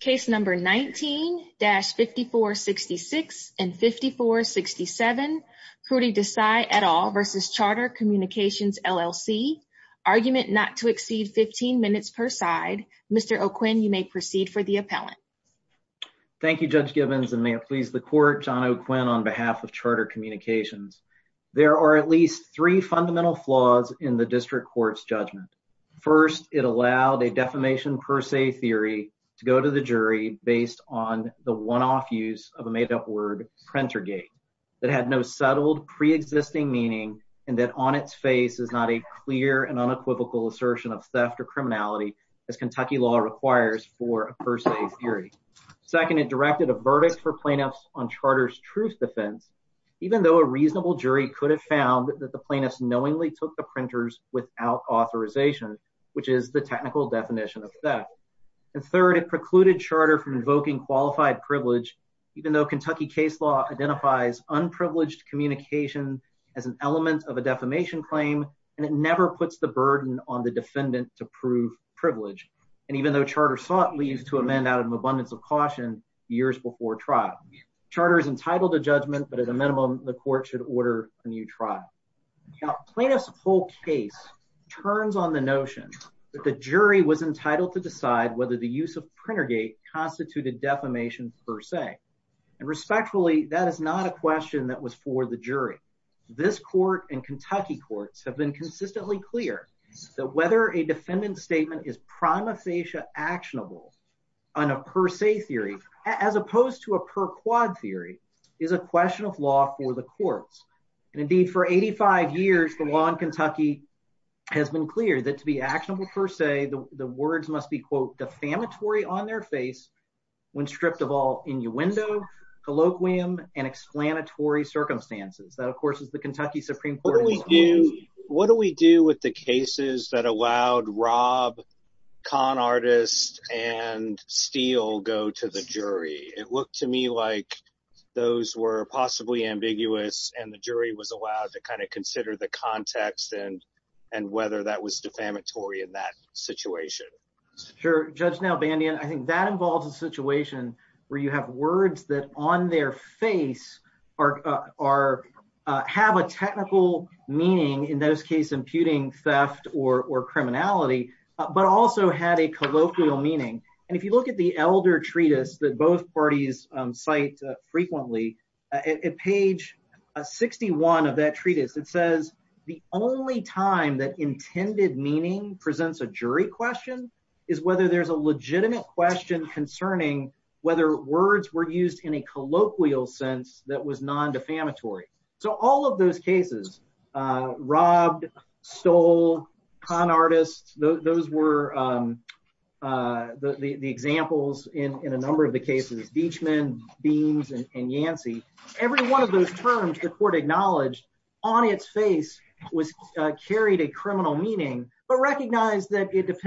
Case number 19-5466 and 5467, Kruti Desai et al. versus Charter Communications LLC, argument not to exceed 15 minutes per side. Mr. O'Quinn, you may proceed for the appellant. Thank you, Judge Gibbons, and may it please the court, John O'Quinn on behalf of Charter Communications. There are at least three fundamental flaws in the district court's to go to the jury based on the one-off use of a made-up word printer gate that had no settled pre-existing meaning and that on its face is not a clear and unequivocal assertion of theft or criminality as Kentucky law requires for a first aid theory. Second, it directed a verdict for plaintiffs on Charter's truth defense even though a reasonable jury could have found that the plaintiffs knowingly took the printers without authorization, which is the technical definition of theft. And third, it precluded Charter from invoking qualified privilege even though Kentucky case law identifies unprivileged communication as an element of a defamation claim and it never puts the burden on the defendant to prove privilege and even though Charter sought leave to amend out of abundance of caution years before trial. Charter is entitled to judgment, but at a minimum, the court should order a new trial. Now, plaintiff's whole case turns on the notion that the jury was entitled to decide whether the use of printer gate constituted defamation per se and respectfully, that is not a question that was for the jury. This court and Kentucky courts have been consistently clear that whether a defendant's statement is prima facie actionable on a per se theory as opposed to a per quad theory is a question of law for the courts and indeed for 85 years, the law in Kentucky has been clear that to be actionable per se, the words must be, quote, defamatory on their face when stripped of all innuendo, colloquium, and explanatory circumstances. That, of course, is the Kentucky Supreme Court. What do we do with the cases that allowed Rob, con artist, and Steele go to the jury? It looked to me like those were possibly ambiguous and the jury was allowed to consider the context and whether that was defamatory in that situation. Sure. Judge Nalbandian, I think that involves a situation where you have words that on their face have a technical meaning, in those cases imputing theft or criminality, but also had a colloquial meaning. If you look at the elder treatise that both parties cite frequently, at page 61 of that treatise, it says the only time that intended meaning presents a jury question is whether there's a legitimate question concerning whether words were used in a colloquial sense that was non-defamatory. So all of those cases, Rob, Steele, con artist, those were the examples in a number of ways. I'm thinking about Yancey as the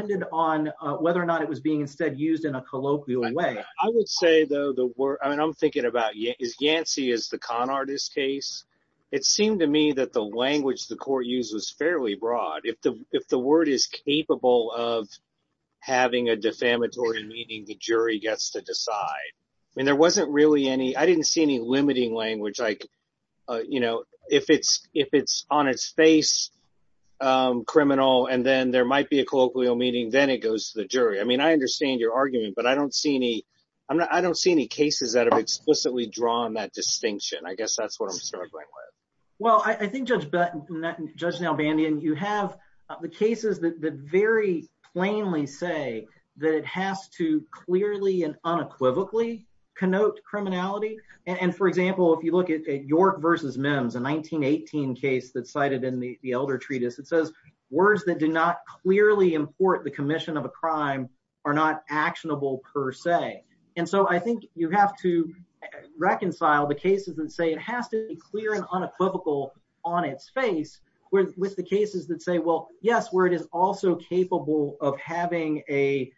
con artist case. It seemed to me that the language the court used was fairly broad. If the word is capable of having a defamatory meaning, the jury gets to on its face criminal and then there might be a colloquial meaning, then it goes to the jury. I understand your argument, but I don't see any cases that have explicitly drawn that distinction. I guess that's what I'm struggling with. Well, I think Judge Nalbandian, you have the cases that very plainly say that it has to clearly and unequivocally connote criminality. For example, if you look at York versus Mims, a 1918 case that's cited in the Elder Treatise, it says words that do not clearly import the commission of a crime are not actionable per se. I think you have to reconcile the cases that say it has to be clear and unequivocal on its face with the cases that say, well, yes, word is also capable of having a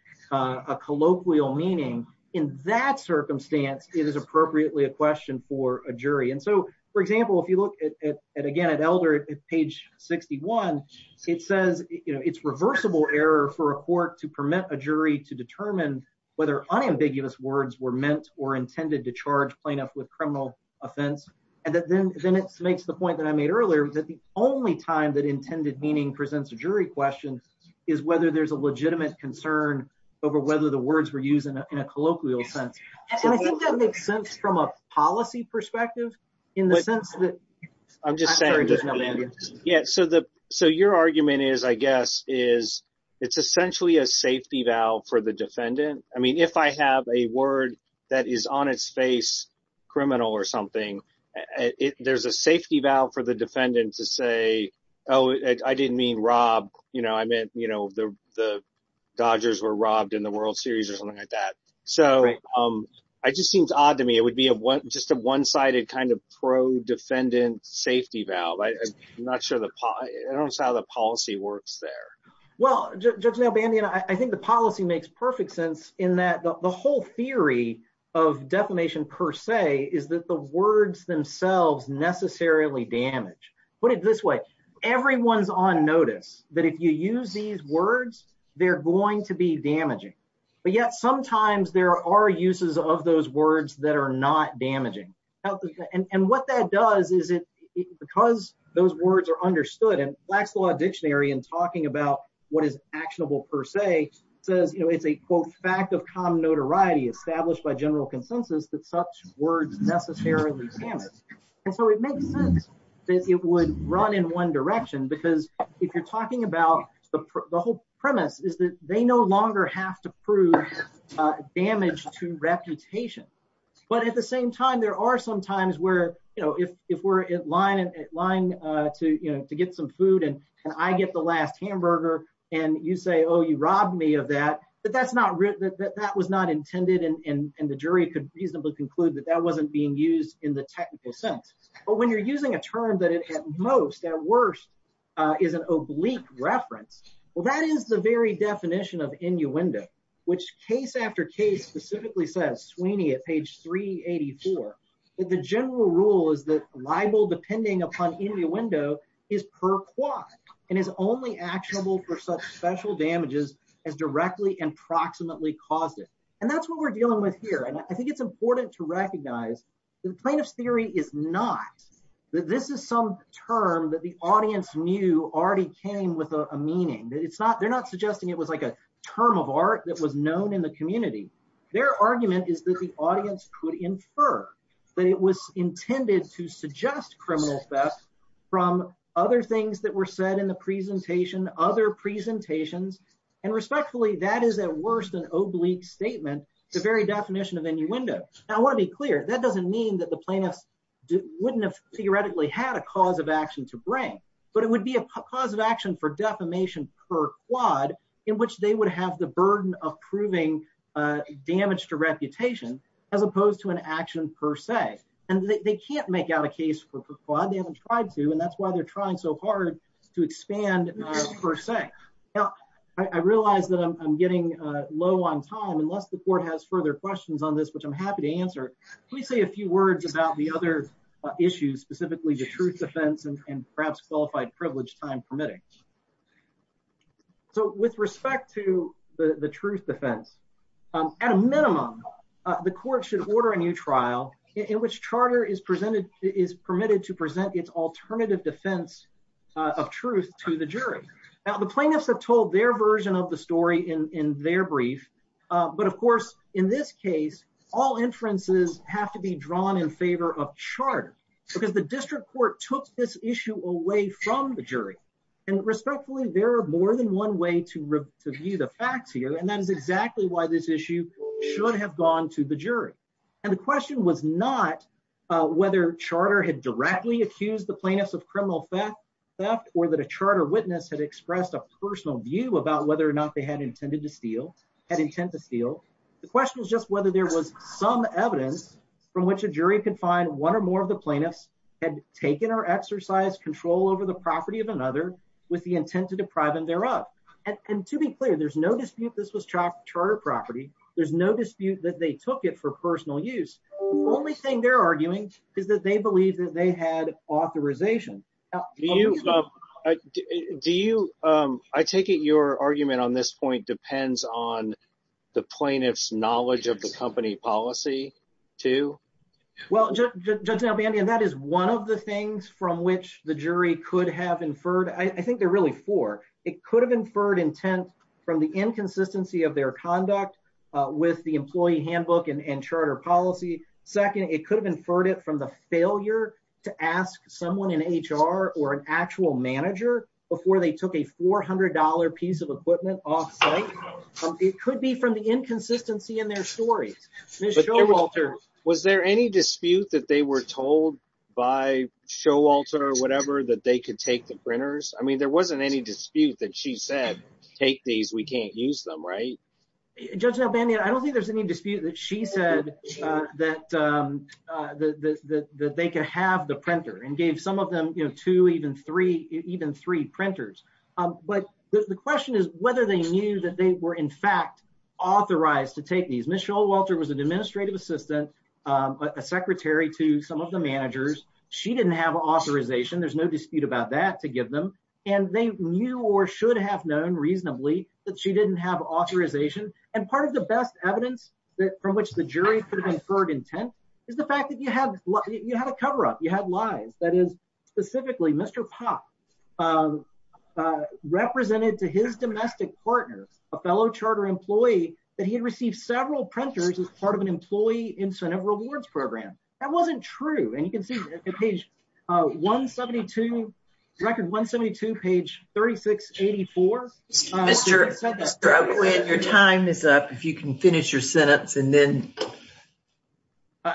colloquial meaning. In that circumstance, it is appropriately a question for a jury. For example, if you look at Elder at page 61, it says it's reversible error for a court to permit a jury to determine whether unambiguous words were meant or intended to charge plaintiff with criminal offense. Then it makes the point that I made earlier that the only time that intended meaning presents a jury question is whether there's a legitimate concern over whether the words were used in a colloquial sense. I think that makes sense from a policy perspective. Your argument is, I guess, it's essentially a safety valve for the defendant. I mean, if I have a word that is on its face criminal or something, there's a safety valve for the defendant to say, oh, I didn't mean rob. I meant the Dodgers were robbed in the World Series or that. It just seems odd to me. It would be just a one-sided kind of pro-defendant safety valve. I'm not sure how the policy works there. Judge Nel-Bandy, I think the policy makes perfect sense in that the whole theory of defamation per se is that the words themselves necessarily damage. Put it this way. Everyone's on notice that if you use these words, they're going to be damaging, but yet sometimes there are uses of those words that are not damaging. What that does is because those words are understood, and Black's Law Dictionary in talking about what is actionable per se, says it's a, quote, fact of common notoriety established by general consensus that such words necessarily damage. And so it makes sense that it would run in one direction because if you're talking about the whole premise is that they no longer have to prove damage to reputation. But at the same time, there are some times where if we're at line to get some food and I get the last hamburger and you say, oh, you robbed me of that, that that was not intended, and the jury could reasonably conclude that that wasn't being used in the technical sense. But when you're using a term that it at most, at worst, is an oblique reference, well, that is the very definition of innuendo, which case after case specifically says, Sweeney at page 384, that the general rule is that libel depending upon innuendo is per quod and is only actionable for such special damages as directly and proximately caused it. And that's what we're dealing with here. And I think it's important to recognize that the plaintiff's theory is not that this is some term that the audience knew already came with a meaning, that it's not, they're not suggesting it was like a term of art that was known in the community. Their argument is that the audience could infer that it was intended to suggest criminal theft from other things that were said in the presentation, other presentations, and respectfully, that is at worst an oblique statement, the very definition of innuendo. Now, I want to be clear, that doesn't mean that the plaintiffs wouldn't have theoretically had a cause of action to bring, but it would be a cause of action for defamation per quad, in which they would have the burden of proving damage to reputation, as opposed to an action per se. And they can't make out a case per quad, they haven't tried to, and that's why they're trying so hard to expand per se. Now, I realize that I'm getting low on time, unless the court has further questions on this, which I'm happy to answer. Let me say a few words about the other issues, specifically the truth defense and perhaps qualified privilege time permitting. So with respect to the truth defense, at a minimum, the court should order a new trial in which charter is permitted to present its alternative defense of truth to the jury. Now, the plaintiffs have told their version of the story in their brief, but of course, in this case, all inferences have to be drawn in favor of charter, because the district court took this issue away from the jury. And respectfully, there are more than one way to And the question was not whether charter had directly accused the plaintiffs of criminal theft, or that a charter witness had expressed a personal view about whether or not they had intended to steal, had intent to steal. The question was just whether there was some evidence from which a jury could find one or more of the plaintiffs had taken or exercised control over the property of another with the intent to deprive them thereof. And to be clear, there's no dispute this was charter property. There's no dispute that they took it for personal use. The only thing they're arguing is that they believe that they had authorization. I take it your argument on this point depends on the plaintiff's knowledge of the company policy, too? Well, Judge Nalbandia, that is one of the things from which the jury could have inferred. I think they're really four. It could have inferred intent from the inconsistency of their conduct with the employee handbook and charter policy. Second, it could have inferred it from the failure to ask someone in HR or an actual manager before they took a $400 piece of equipment off site. It could be from the inconsistency in their stories. Ms. Showalter, was there any dispute that they were told by Showalter or whatever that they could take the printers? I mean, there wasn't any dispute that she said, take these, we can't use them, right? Judge Nalbandia, I don't think there's any dispute that she said that they could have the printer and gave some of them two, even three, even three printers. But the question is whether they knew that they were in fact authorized to take these. Ms. Showalter was an administrative assistant, a secretary to some of the managers. She didn't have authorization. There's no dispute about that to give them. And they knew or should have known reasonably that she didn't have authorization. And part of the best evidence from which the jury could have inferred intent is the fact that you had a coverup, you had lies. That is specifically Mr. Popp represented to his domestic partners, a fellow charter employee, that he had received several printers as part of an employee incentive rewards program. That wasn't true. And you can see at page 172, record 172, page 3684. Mr. O'Quinn, your time is up. If you can finish your sentence and then.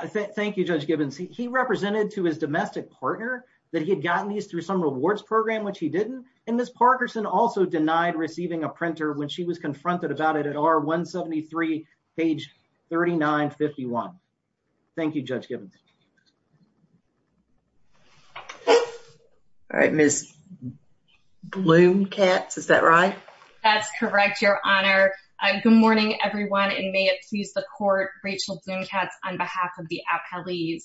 Thank you, Judge Gibbons. He represented to his domestic partner that he had gotten these through some rewards program, which he didn't. And Ms. Parkerson also denied receiving a printer when she was confronted about it at R173, page 3951. Thank you, Judge Gibbons. All right, Ms. Blumkatz, is that right? That's correct, Your Honor. Good morning, everyone, and may it please the court, Rachel Blumkatz on behalf of the appellees.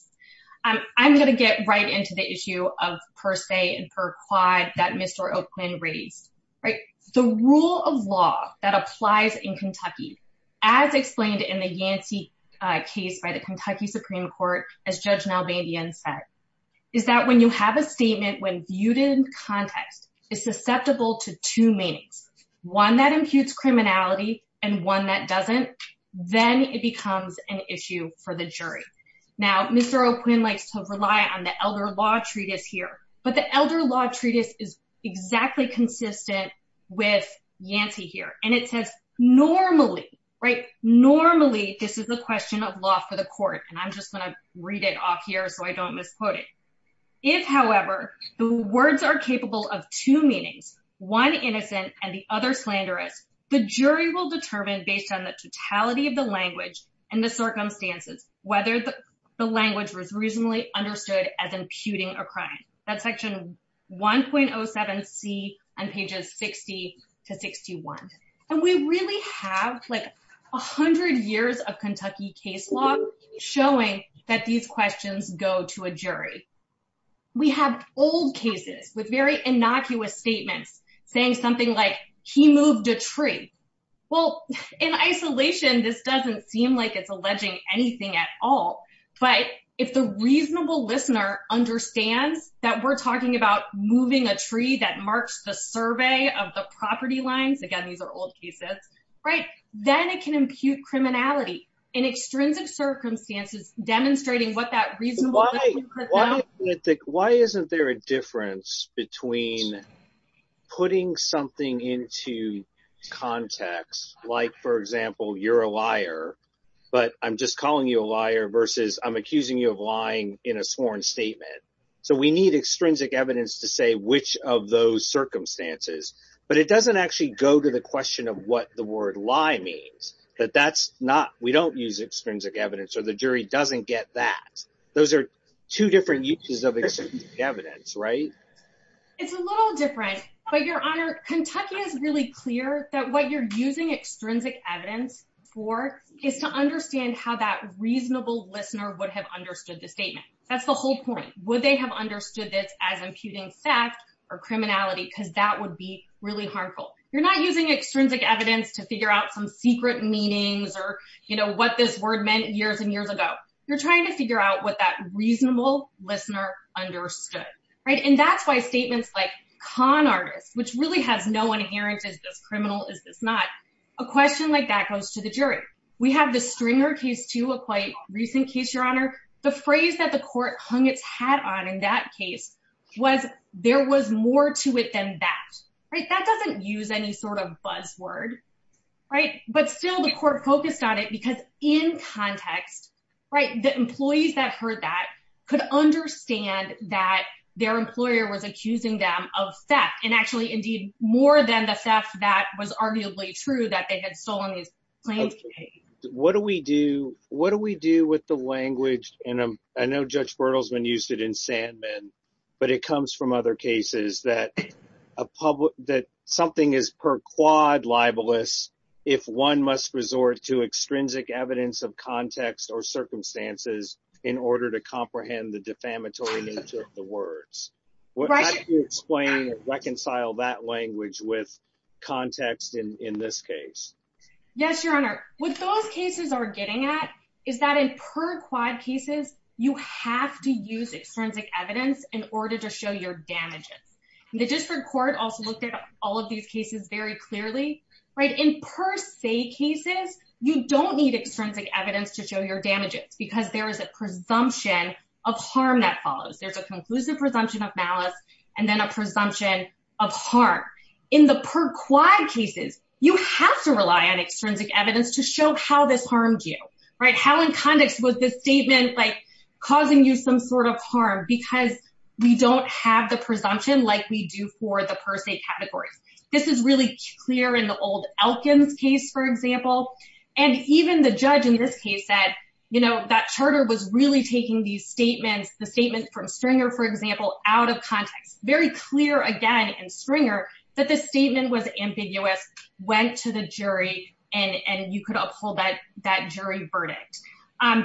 I'm going to get right into the issue of per se and per quad that Mr. O'Quinn raised, right? The rule of law that applies in Kentucky, as explained in the Yancey case by the Kentucky Supreme Court, as Judge Nalbandian said, is that when you have a statement when viewed in context is susceptible to two meanings, one that imputes criminality and one that doesn't, then it becomes an issue for the elder law treatise here. But the elder law treatise is exactly consistent with Yancey here. And it says, normally, right, normally, this is a question of law for the court. And I'm just going to read it off here. So I don't misquote it. If however, the words are capable of two meanings, one innocent and the other slanderous, the jury will determine based on the totality of the crime. That's section 1.07c on pages 60 to 61. And we really have like 100 years of Kentucky case law showing that these questions go to a jury. We have old cases with very innocuous statements saying something like he moved a tree. Well, in isolation, this doesn't seem like it's alleging anything at all. But if the reasonable listener understands that we're talking about moving a tree that marks the survey of the property lines, again, these are old cases, right, then it can impute criminality in extrinsic circumstances demonstrating what that reason why, why isn't there a difference between putting something into context, like, for example, you're a liar, but I'm just calling you a liar versus I'm accusing you of lying in a sworn statement. So we need extrinsic evidence to say which of those circumstances, but it doesn't actually go to the question of what the word lie means that that's not we don't use extrinsic evidence, or the jury doesn't get that those are two different uses of evidence, right? It's a little different. But Your Honor, Kentucky is really clear that what you're using extrinsic evidence for is to understand how that reasonable listener would have understood the statement. That's the whole point, would they have understood this as imputing theft or criminality, because that would be really harmful. You're not using extrinsic evidence to figure out some secret meanings or, you know, what this word meant years and years ago, you're trying to figure out what that reasonable listener understood, right? And that's why statements like con artists, which really has no inherent is this criminal? Is this not a question like that goes to the jury, we have the stringer case to a quite recent case, Your Honor, the phrase that the court hung its hat on in that case, was there was more to it than that, right? That doesn't use any sort of buzzword. Right, but still the court focused on it, because in context, right, the employees that heard that could understand that their employer was accusing them of theft, and actually, indeed, more than the theft that was arguably true that they had stolen these planes. What do we do? What do we do with the language? And I know Judge Bertelsmann used it in Sandman, but it comes from other cases that a public that something is per quad libelous, if one must resort to extrinsic evidence of context or circumstances in order to comprehend the defamatory nature of the words, right? explain reconcile that language with context in this case? Yes, Your Honor, what those cases are getting at is that in per quad cases, you have to use extrinsic evidence in order to show your damages. The district court also looked at all of these cases very clearly, right? In per se cases, you don't need extrinsic evidence to show your damages, because there is a presumption of harm that follows. There's a conclusive presumption of malice, and then a presumption of harm. In the per quad cases, you have to rely on extrinsic evidence to show how this harmed you, right? How in context was this statement like, causing you some sort of harm because we don't have the presumption like we do for the per se categories. This is really clear in the old Elkins case, for example. And even the judge in this case said, you know, that charter was really taking these statements, the statement from stringer, for example, out of context, very clear, again, and stringer, that the statement was ambiguous, went to the jury, and you could uphold that that jury verdict. And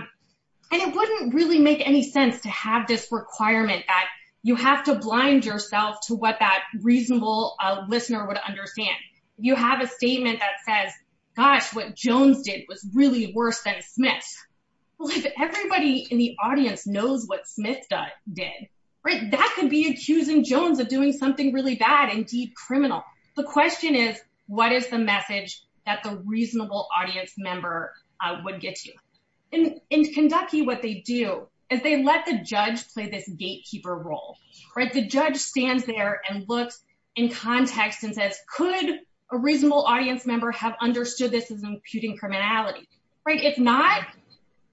it wouldn't really make any sense to have this requirement that you have to blind yourself to what that reasonable listener would understand. You have a statement that says, gosh, what Jones did was really worse than Smith. Well, if everybody in the audience knows what Smith did, right, that could be accusing Jones of doing something really bad, indeed criminal. The question is, what is the message that the judge played this gatekeeper role, right? The judge stands there and looks in context and says, could a reasonable audience member have understood this as imputing criminality, right? If not,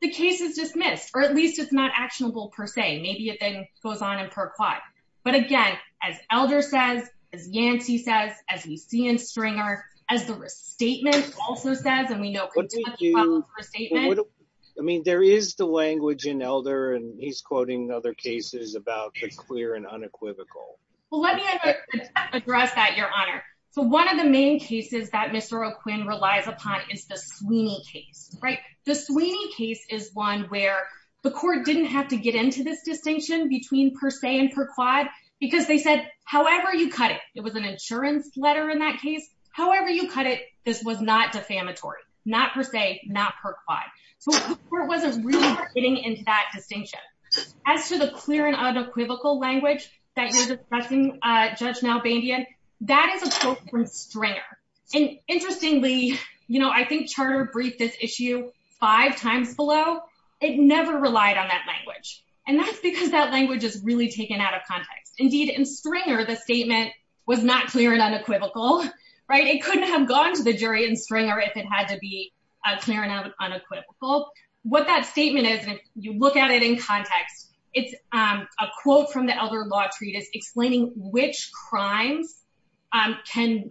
the case is dismissed, or at least it's not actionable per se, maybe it then goes on and perquat. But again, as Elder says, as Yancey says, as we see in stringer, as the restatement also says, and we know, for a statement, I mean, there is the language in Elder and he's quoting other cases about the clear and unequivocal. Well, let me address that, Your Honor. So one of the main cases that Mr. O'Quinn relies upon is the Sweeney case, right? The Sweeney case is one where the court didn't have to get into this distinction between per se and perquat, because they said, however you cut it, it was an insurance letter in that case, however you cut it, this was not defamatory, not per se, not perquat. So the court wasn't really getting into that distinction. As to the clear and unequivocal language that you're discussing, Judge Nalbandian, that is a quote from Stringer. And interestingly, you know, I think Charter briefed this issue five times below, it never relied on that language. And that's because that language is really taken out of context. Indeed, in Stringer, the statement was not clear and unequivocal, right? It couldn't have gone to the jury in Stringer if it had to be clear and unequivocal. What that statement is, and you look at it in context, it's a quote from the Elder Law Treatise explaining which crimes can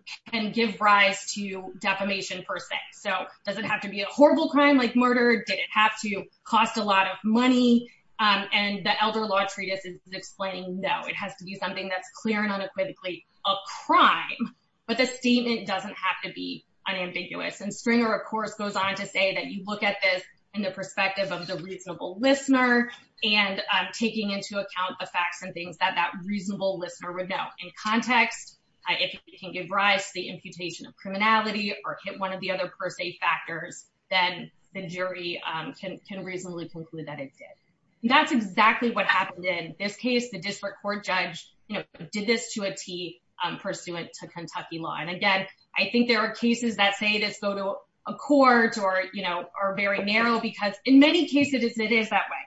give rise to defamation per se. So does it have to be a horrible crime like murder? Did it have to cost a lot of money? And the Elder Law Treatise is explaining, no, it has to be something that's clear and unequivocally a crime. But the statement doesn't have to be unambiguous. And Stringer, of course, goes on to say that you look at this in the perspective of the reasonable listener, and taking into account the facts and things that that reasonable listener would know in context, if it can give rise to the imputation of criminality or hit one of the other per se factors, then the jury can reasonably conclude that it did. That's exactly what happened in this case. The district court judge, you know, did this to a T pursuant to Kentucky law. And again, I think there are cases that say this go to a court or, you know, are very narrow, because in many cases, it is that way.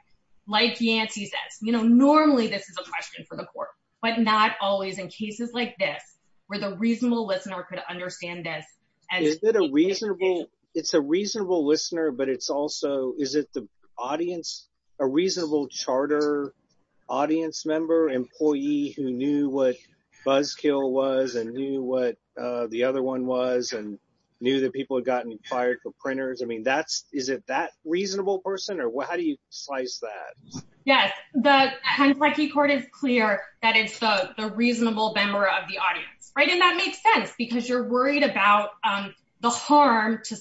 Like Yancey says, you know, normally, this is a question for the court, but not always in cases like this, where the reasonable listener could understand this. And is it a reasonable, it's a reasonable listener, but it's also is it the audience, a reasonable charter, audience member employee who knew what buzzkill was and knew what the other one was and knew that people had gotten fired for printers? I mean, that's is it that reasonable person? Or what? How do you slice that? Yes, the Kentucky court is clear that it's the reasonable member of the audience, right? And that makes sense, because you're worried about the harm to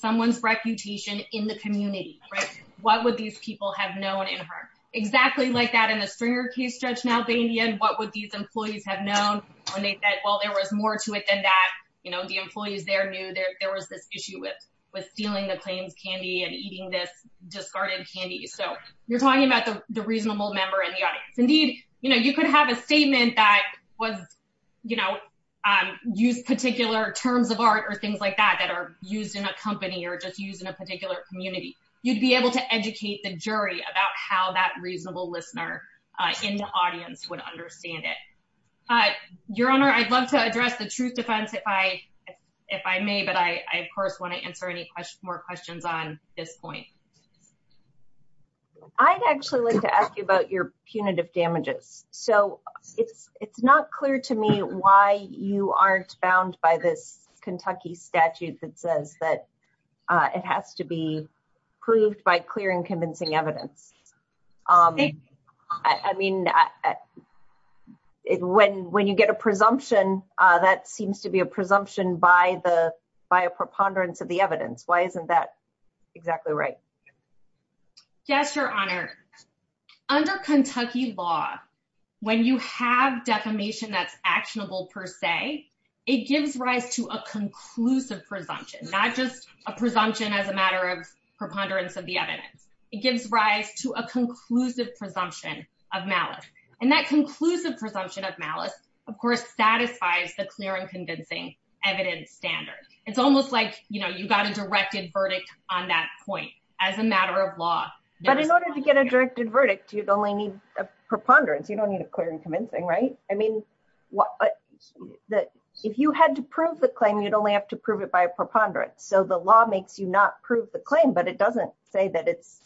people have known in her exactly like that in the stringer case, judge now, they in the end, what would these employees have known? And they said, Well, there was more to it than that. You know, the employees there knew there was this issue with with stealing the claims candy and eating this discarded candy. So you're talking about the reasonable member in the audience. Indeed, you know, you could have a statement that was, you know, use particular terms of art or things like that, that are used in a company or just use in a particular community, you'd be able to educate the jury about how that reasonable listener in the audience would understand it. Your Honor, I'd love to address the truth defense if I, if I may, but I of course, want to answer any more questions on this point. I'd actually like to ask you about your punitive damages. So it's, it's not clear to me why you aren't bound by this Kentucky statute that says that it has to be proved by clear and convincing evidence. I mean, when when you get a presumption, that seems to be a presumption by the by a preponderance of the evidence. Why isn't that exactly right? Yes, Your Honor. Under Kentucky law, when you have defamation that's actionable, per se, it gives rise to a conclusive presumption, not just a presumption as a matter of preponderance of the evidence, it gives rise to a conclusive presumption of malice. And that conclusive presumption of malice, of course, satisfies the clear and convincing evidence standard. It's almost like, you know, you got a directed verdict on that point as a matter of law. But in order to get a directed verdict, you'd only need a preponderance. You don't need a convincing, right? I mean, what that if you had to prove the claim, you'd only have to prove it by a preponderance. So the law makes you not prove the claim, but it doesn't say that it's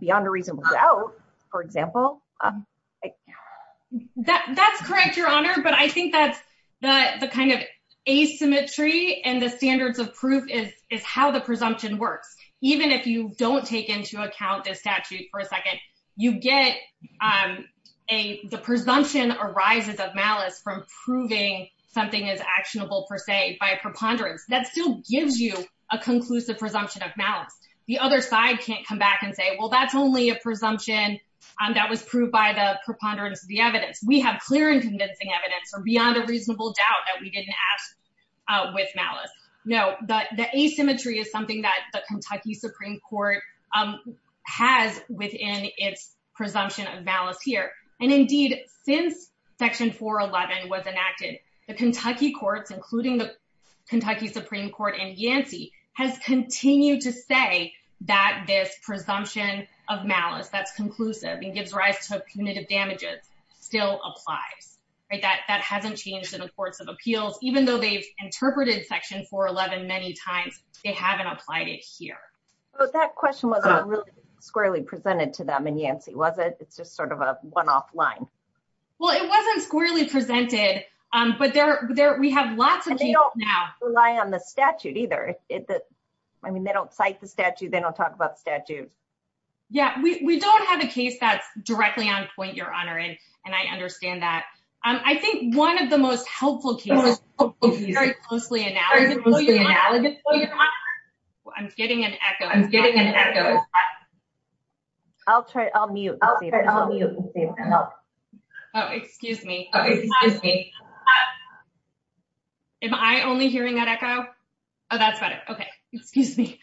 beyond a reasonable doubt. For example, that that's correct, Your Honor. But I think that's the kind of asymmetry and the standards of proof is is how the presumption works. Even if you don't take into account the statute for a second, you get a presumption arises of malice from proving something is actionable, per se, by preponderance that still gives you a conclusive presumption of malice. The other side can't come back and say, well, that's only a presumption that was proved by the preponderance of the evidence. We have clear and convincing evidence or beyond a reasonable doubt that we didn't ask with malice. No, the asymmetry is something that the Kentucky Supreme Court has within its presumption of malice here. And indeed, since Section 411 was enacted, the Kentucky courts, including the Kentucky Supreme Court and Yancey, has continued to say that this presumption of malice that's conclusive and gives rise to punitive damages still applies. That hasn't changed in the courts of appeals, even though they've applied it here. Well, that question wasn't really squarely presented to them and Yancey, was it? It's just sort of a one off line. Well, it wasn't squarely presented. But there we have lots of now rely on the statute either. I mean, they don't cite the statute. They don't talk about statute. Yeah, we don't have a case that's directly on point, Your Honor. And I understand that. I think one of the most helpful cases is very closely analogous. I'm getting an echo. I'm getting an echo. I'll try. I'll mute. Excuse me. Am I only hearing that echo? Oh, that's better. Okay. Excuse me.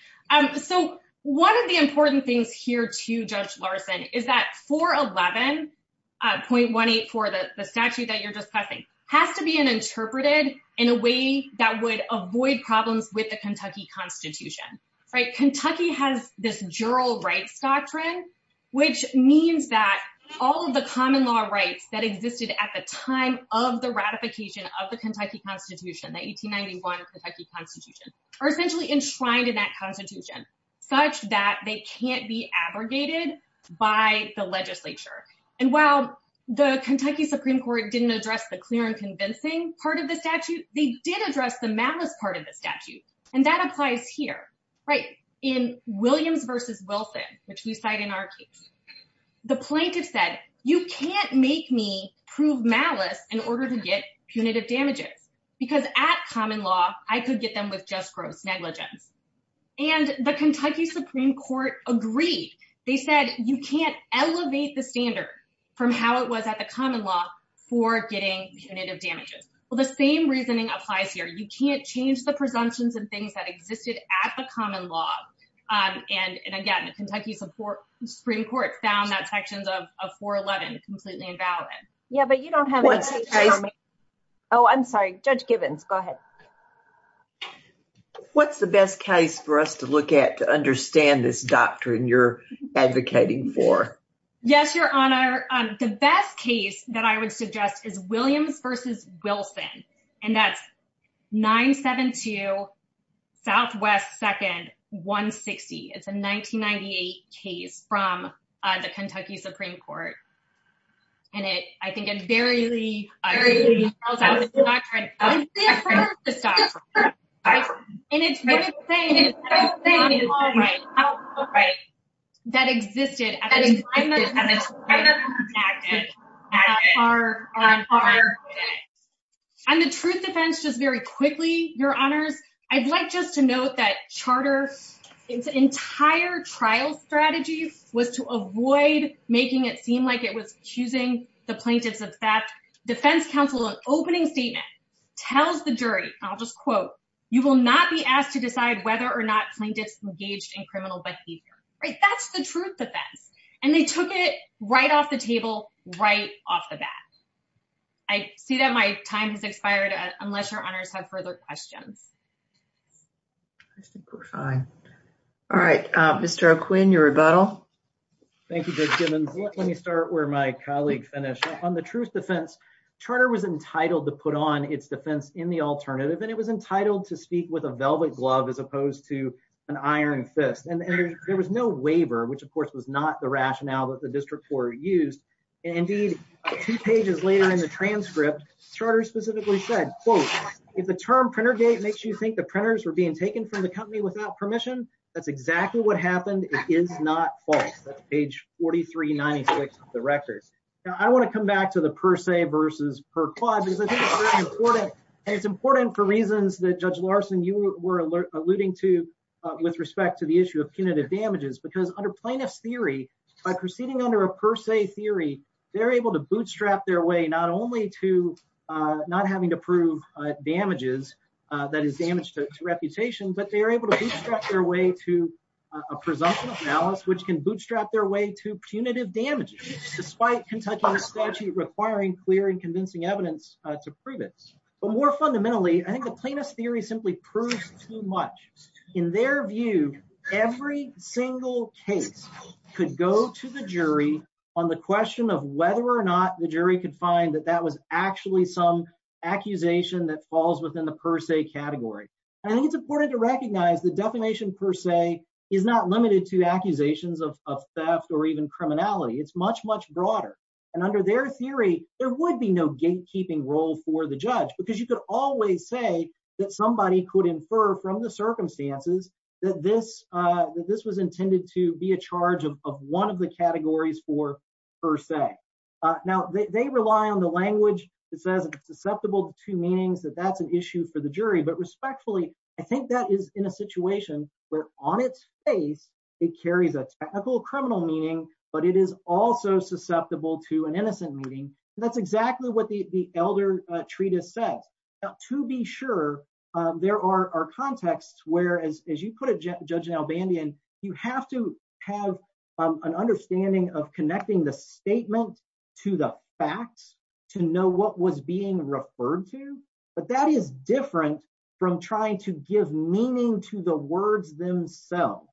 So one of the important things here to Judge Larson is that 411.184, the statute that you're discussing, has to be an interpreted in a way that would avoid problems with the Kentucky Constitution, right? Kentucky has this jural rights doctrine, which means that all of the common law rights that existed at the time of the ratification of the Kentucky Constitution, the 1891 Kentucky Constitution, are essentially enshrined in that Constitution, such that they can't be abrogated by the legislature. And while the Kentucky Supreme Court didn't address the clear and convincing part of the statute, they did address the malice part of the statute. And that applies here, right? In Williams versus Wilson, which we cite in our case, the plaintiff said, you can't make me prove malice in order to get punitive damages, because at common law, I could get them with just gross negligence. And the Kentucky Supreme Court agreed. They said, you can't elevate the standard from how it was at the common law for getting punitive damages. Well, the same reasoning applies here. You can't change the presumptions and things that existed at the common law. And again, the Kentucky Supreme Court found that sections of 411 completely invalid. Yeah, but you don't have it. Oh, I'm sorry, Judge Givens, go ahead. What's the best case for us to look at to understand this doctrine you're advocating for? Yes, Your Honor. The best case that I would suggest is Williams versus Wilson. And that's 972 Southwest 2nd, 160. It's a 1998 case from the Kentucky Supreme Court. And I think it very clearly tells us it's a doctrine that's different to this doctrine. And it's the same common law right that existed at the time of this act. On the truth defense, just very quickly, Your Honors, I'd like just to note that charter, its entire trial strategy was to avoid making it seem like it was accusing the plaintiffs of that. Defense counsel, an opening statement tells the jury, I'll just quote, you will not be asked to decide whether or not plaintiffs engaged in criminal behavior, right? That's the truth defense. And they took it right off the table, right off the bat. I see that my time has expired, unless Your Honors have further questions. All right, Mr. O'Quinn, your rebuttal. Thank you, Judge Givens. Let me start where my colleague finished. On the truth defense, charter was entitled to put on its defense in the alternative. And it was entitled to speak with a velvet glove as opposed to an iron fist. And there was no waiver, which of course, was not the rationale that the district court used. And indeed, two pages later in the transcript, charter specifically said, quote, if the term printer gate makes you think the printers were being taken from the company without permission, that's exactly what happened. It is not false. That's page 4396 of the records. Now, I want to come back to the per se versus per quad, because I think it's very important. And it's important for reasons that Judge Larson, you were alluding to, with respect to the issue of punitive damages, because under plaintiff's theory, by proceeding under a per se theory, they're able to bootstrap their way not only to not having to prove damages, that is damage to reputation, but they are able to bootstrap their way to a presumption of malice, which can bootstrap their way to punitive damages, despite Kentucky's statute requiring clear and convincing evidence to prove it. But more fundamentally, I think the plaintiff's theory simply proves too much. In their view, every single case could go to the jury on the question of whether or not the jury could find that that was actually some accusation that falls within the per se category. And I think it's important to recognize the definition per se is not limited to accusations of theft or even criminality. It's much, much broader. And under their theory, there would be no gatekeeping role for the judge, because you could always say that somebody could infer from the circumstances that this was intended to be a charge of one of the categories for per se. Now, they rely on the language that says it's susceptible to meanings, that that's an issue for the jury. But respectfully, I think that is in a situation where on its face, it carries a technical criminal meaning, but it is also susceptible to an innocent meaning. That's exactly what the Elder Treatise says. Now, to be sure, there are contexts where, as you put it, Judge Nalbandian, you have to have an understanding of connecting the statement to the facts to know what was being referred to. But that is different from trying to give meaning to the words themselves.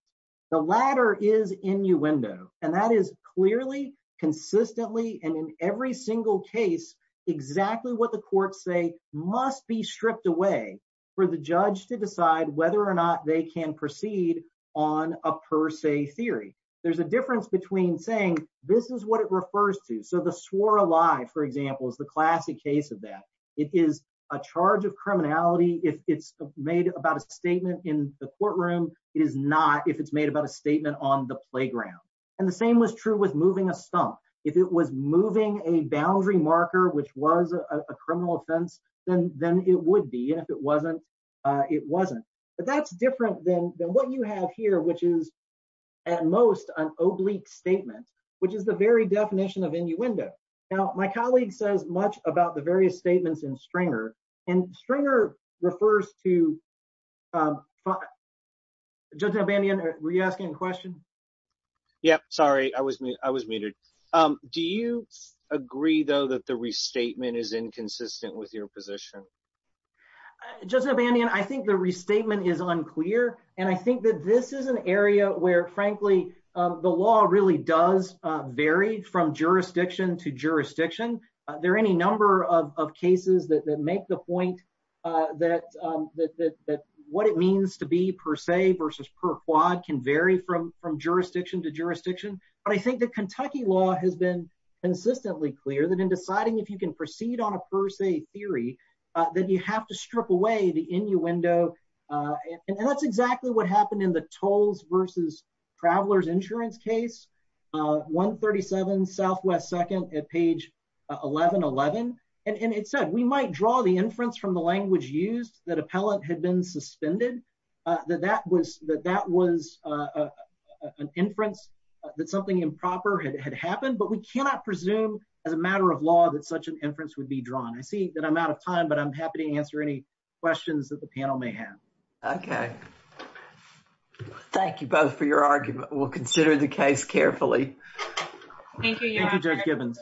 The latter is innuendo. And that is clearly, consistently, and in every single case, exactly what the courts say must be stripped away for the judge to decide whether or not they can proceed on a per se theory. There's a difference between saying this is what it refers to. So the swore a lie, for example, is the classic case of it is a charge of criminality. If it's made about a statement in the courtroom, it is not if it's made about a statement on the playground. And the same was true with moving a stump. If it was moving a boundary marker, which was a criminal offense, then it would be, and if it wasn't, it wasn't. But that's different than what you have here, which is, at most, an oblique statement, which is the very definition of innuendo. Now, my colleague says much about the various statements in Stringer, and Stringer refers to, Judge Abanian, were you asking a question? Yeah, sorry, I was muted. Do you agree, though, that the restatement is inconsistent with your position? Judge Abanian, I think the restatement is unclear. And I think that this is an area where, frankly, the law really does vary from jurisdiction to jurisdiction. There are any number of cases that make the point that what it means to be per se versus per quad can vary from jurisdiction to jurisdiction. But I think the Kentucky law has been consistently clear that in deciding if you can proceed on a per se theory, that you have to traveler's insurance case, 137 Southwest 2nd at page 1111. And it said, we might draw the inference from the language used that appellant had been suspended, that that was an inference that something improper had happened, but we cannot presume as a matter of law that such an inference would be drawn. I see that I'm out of time, but I'm happy to answer any questions that the panel may have. Okay. Thank you both for your argument. We'll consider the case carefully. Thank you, Judge Gibbons.